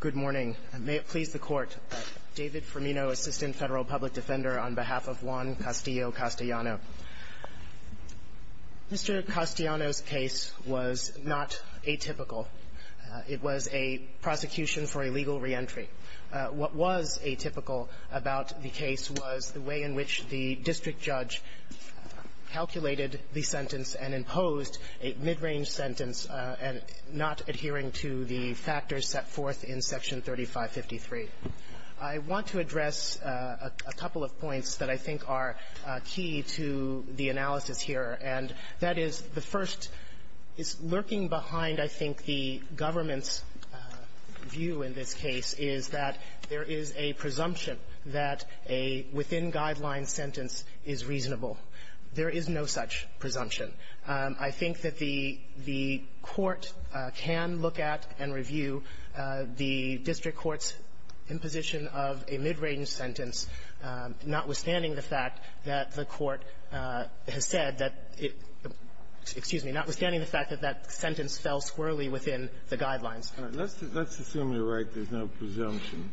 Good morning. May it please the Court, David Firmino, Assistant Federal Public Defender, on behalf of Juan Castillo-Castellano. Mr. Castellano's case was not atypical. It was a prosecution for illegal reentry. What was atypical about the case was the way in which the district judge calculated the sentence and imposed a mid-range sentence and not adhering to the factors set forth in Section 3553. I want to address a couple of points that I think are key to the analysis here, and that is the first is lurking behind, I think, the government's view in this case is that there is a presumption that a within-guidelines sentence is reasonable. There is no such presumption. I think that the court can look at and review the district court's imposition of a mid-range sentence, notwithstanding the fact that the court has said that it – excuse me – notwithstanding the fact that that sentence fell squirrelly within the guidelines. Kennedy. Let's assume you're right, there's no presumption.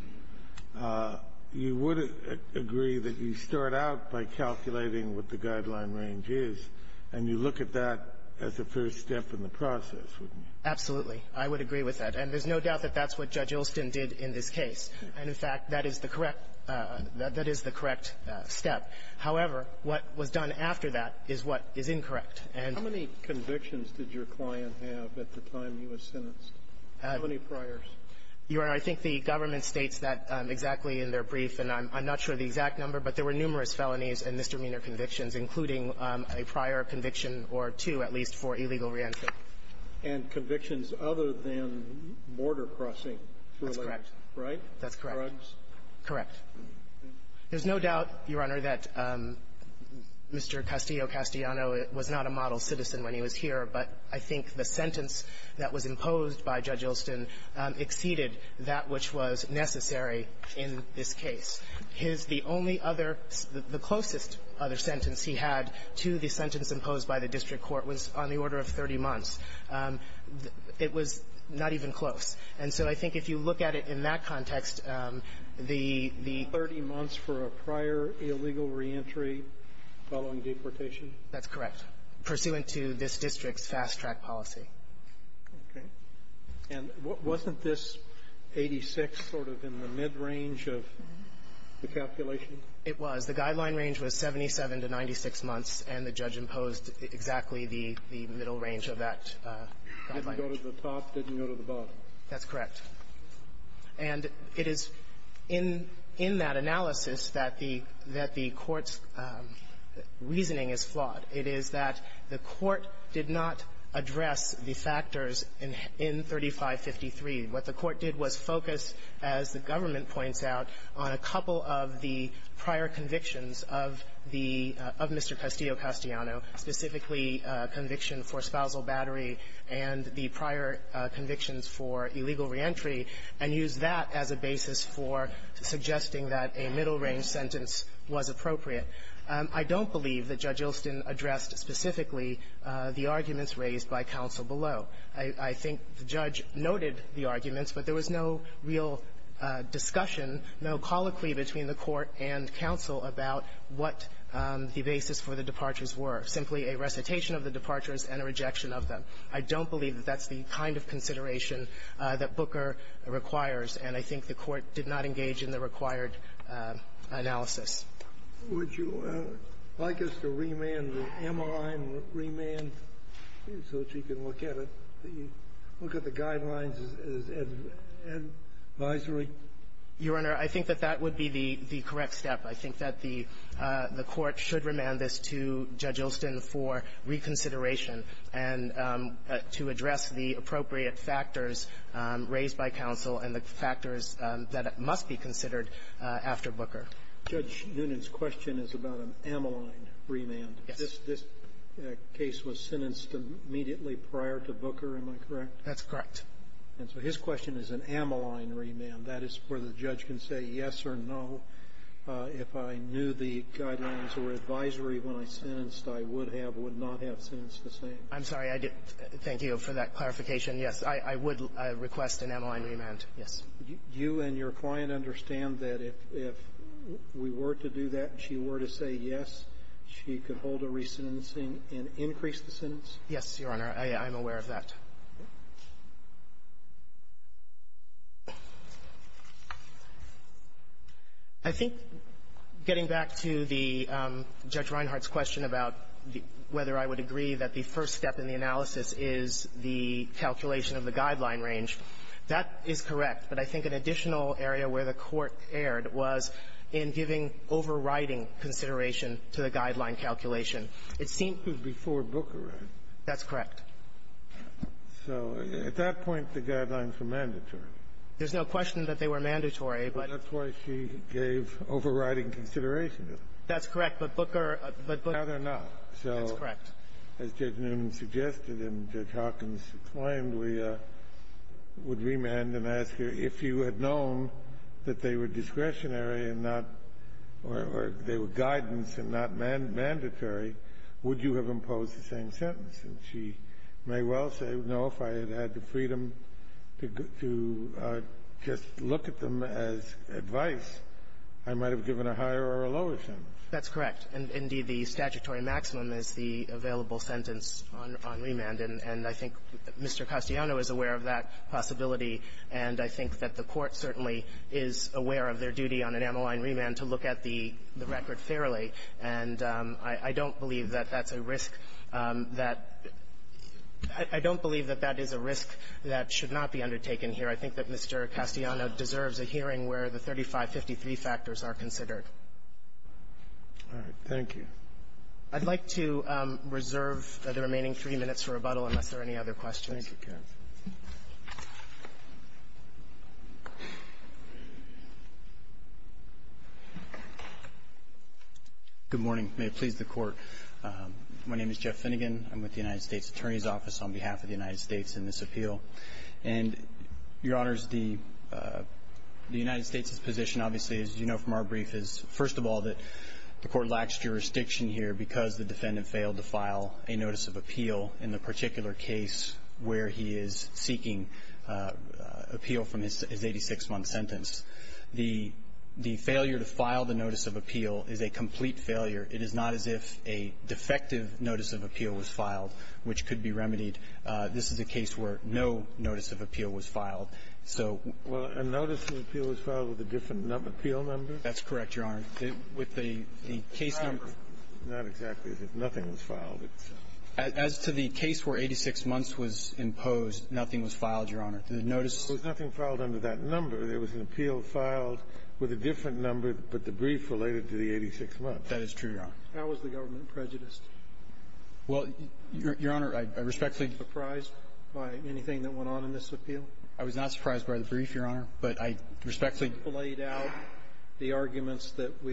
You would agree that you start out by calculating what the guideline range is, and you look at that as a first step in the process, wouldn't you? Absolutely. I would agree with that. And there's no doubt that that's what Judge Ilston did in this case. And, in fact, that is the correct – that is the correct step. However, what was done after that is what is incorrect. And – What convictions did your client have at the time he was sentenced? How many priors? Your Honor, I think the government states that exactly in their brief. And I'm not sure of the exact number, but there were numerous felonies and misdemeanor convictions, including a prior conviction or two, at least, for illegal re-entry. And convictions other than border crossing. That's correct. Right? That's correct. Drugs? Correct. There's no doubt, Your Honor, that Mr. Castillo-Castellano was not a model citizen when he was here, but I think the sentence that was imposed by Judge Ilston exceeded that which was necessary in this case. His – the only other – the closest other sentence he had to the sentence imposed by the district court was on the order of 30 months. It was not even close. And so I think if you look at it in that context, the – the – Thirty months for a prior illegal re-entry following deportation? That's correct. Pursuant to this district's fast-track policy. Okay. And wasn't this 86 sort of in the mid-range of the calculation? It was. The guideline range was 77 to 96 months, and the judge imposed exactly the – the middle range of that guideline range. Didn't go to the top, didn't go to the bottom. That's correct. And it is in – in that analysis that the – that the court's reasoning is flawed. It is that the court did not address the factors in – in 3553. What the court did was focus, as the government points out, on a couple of the prior convictions of the – of Mr. Castillo-Castellano, specifically conviction for spousal battery and the prior convictions for illegal re-entry, and used that as a basis for suggesting that a middle-range sentence was appropriate. I don't believe that Judge Ilston addressed specifically the arguments raised by counsel below. I think the judge noted the arguments, but there was no real discussion, no colloquy between the Court and counsel about what the basis for the departures were, simply a recitation of the departures and a rejection of them. I don't believe that that's the kind of consideration that Booker requires. And I think the court did not engage in the required analysis. Would you like us to remand the MRI and remand so that you can look at it, the – look at the guidelines as advisory? Your Honor, I think that that would be the – the correct step. I think that the – the court should remand this to Judge Ilston for reconsideration and to address the appropriate factors raised by counsel and the factors that must be considered after Booker. Judge Noonan's question is about an amyline remand. Yes. This case was sentenced immediately prior to Booker, am I correct? That's correct. And so his question is an amyline remand. That is where the judge can say yes or no. If I knew the guidelines were advisory when I sentenced, I would have – would not have sentenced the same. I'm sorry. I didn't – thank you for that clarification. Yes. I would request an amyline remand. Yes. Do you and your client understand that if we were to do that, she were to say yes, she could hold a re-sentencing and increase the sentence? Yes, Your Honor. I'm aware of that. I think getting back to the – Judge Reinhart's question about whether I would agree that the first step in the analysis is the calculation of the guideline range, that is correct. But I think an additional area where the Court erred was in giving overriding consideration to the guideline calculation. It seemed to be before Booker. That's correct. So at that point, the guidelines were mandatory. There's no question that they were mandatory, but – That's why she gave overriding consideration to them. That's correct. But Booker – but Booker – Now they're not. That's correct. So as Judge Newman suggested and Judge Hawkins claimed, we would remand and ask her, if you had known that they were discretionary and not – or they were guidance and not mandatory, would you have imposed the same sentence? And she may well say, no, if I had had the freedom to just look at them as advice, I might have given a higher or a lower sentence. That's correct. And, indeed, the statutory maximum is the available sentence on remand. And I think Mr. Castellano is aware of that possibility. And I think that the Court certainly is aware of their duty on an ammaline remand to look at the record fairly. And I don't believe that that's a risk that – I don't believe that that is a risk that should not be undertaken here. I think that Mr. Castellano deserves a hearing where the 3553 factors are considered. All right. Thank you. I'd like to reserve the remaining three minutes for rebuttal unless there are any other questions. Thank you, counsel. Good morning. May it please the Court. My name is Jeff Finnegan. I'm with the United States Attorney's Office on behalf of the United States in this appeal. And, Your Honors, the United States' position, obviously, as you know from our brief, is, first of all, that the Court lacks jurisdiction here because the defendant failed to file a notice of appeal in the particular case where he is seeking appeal from his 86-month sentence. The failure to file the notice of appeal is a complete failure. It is not as if a defective notice of appeal was filed, which could be remedied. This is a case where no notice of appeal was filed. So — Well, a notice of appeal was filed with a different number, appeal number? That's correct, Your Honor. With the case number — It's not exactly as if nothing was filed. As to the case where 86 months was imposed, nothing was filed, Your Honor. The notice — There was nothing filed under that number. There was an appeal filed with a different number, but the brief related to the 86 months. That is true, Your Honor. How was the government prejudiced? Well, Your Honor, I respectfully — Surprised by anything that went on in this appeal? I was not surprised by the brief, Your Honor, but I respectfully — Yes, it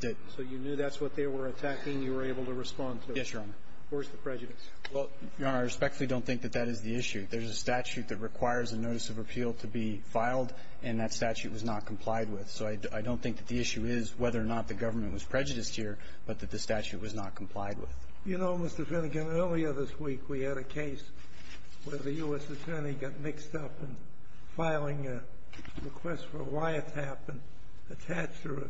did. So you knew that's what they were attacking, and you were able to respond to it? Yes, Your Honor. Where's the prejudice? Well, Your Honor, I respectfully don't think that that is the issue. There's a statute that requires a notice of appeal to be filed, and that statute was not complied with. So I don't think that the issue is whether or not the government was prejudiced here, but that the statute was not complied with. You know, Mr. Finnegan, earlier this week, we had a case where the U.S. attorney got mixed up in filing a request for a wiretap and attached a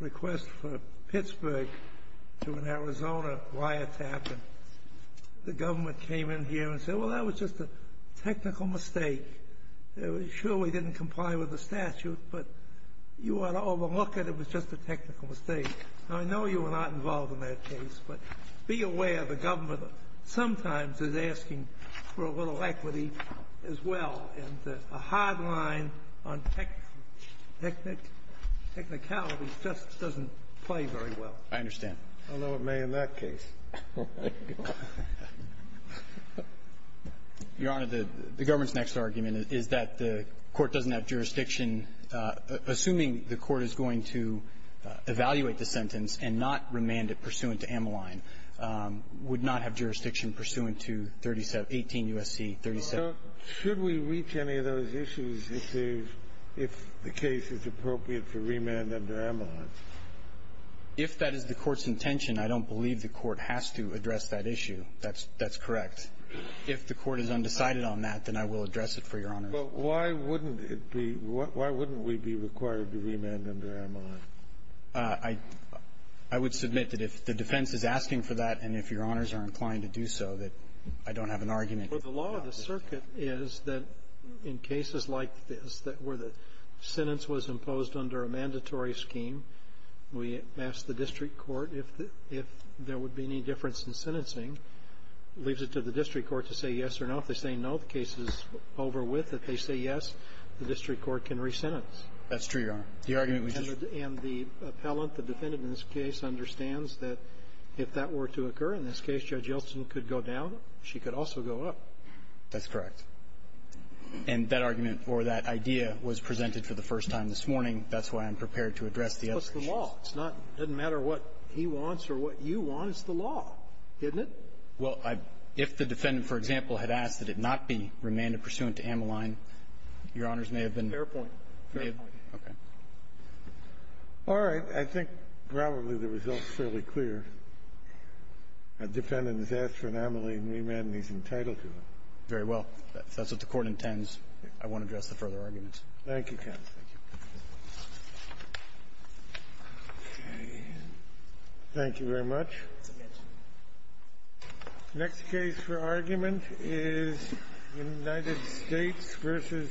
request for Pittsburgh to an Arizona wiretap, and the government came in here and said, well, that was just a technical mistake. It surely didn't comply with the statute, but you ought to overlook it. It was just a technical mistake. I know you were not involved in that case, but be aware the government sometimes is asking for a little equity as well, and a hard line on technicality just doesn't play very well. I understand. I know it may in that case. Your Honor, the government's next argument is that the Court doesn't have jurisdiction assuming the Court is going to evaluate the sentence and not remand it pursuant to Ammaline, would not have jurisdiction pursuant to Ammaline. So should we reach any of those issues if the case is appropriate for remand under Ammaline? If that is the Court's intention, I don't believe the Court has to address that issue. That's correct. If the Court is undecided on that, then I will address it for Your Honor. But why wouldn't it be – why wouldn't we be required to remand under Ammaline? I would submit that if the defense is asking for that and if Your Honors are inclined to do so, that I don't have an argument. But the law of the circuit is that in cases like this where the sentence was imposed under a mandatory scheme, we ask the district court if there would be any difference in sentencing. It leaves it to the district court to say yes or no. If they say no, the case is over with. If they say yes, the district court can re-sentence. That's true, Your Honor. The argument was just – In this case, Judge Yeltsin could go down. She could also go up. That's correct. And that argument or that idea was presented for the first time this morning. That's why I'm prepared to address the other issues. It's the law. It's not – it doesn't matter what he wants or what you want. It's the law, isn't it? Well, if the defendant, for example, had asked that it not be remanded pursuant to Ammaline, Your Honors may have been – Fair point. Fair point. Okay. All right. I think probably the result's fairly clear. A defendant has asked for Ammaline remand, and he's entitled to it. Very well. That's what the Court intends. I won't address the further arguments. Thank you, counsel. Thank you. Okay. Thank you very much. It's a yes. Next case for argument is United States v. Rodriguez-Gomez.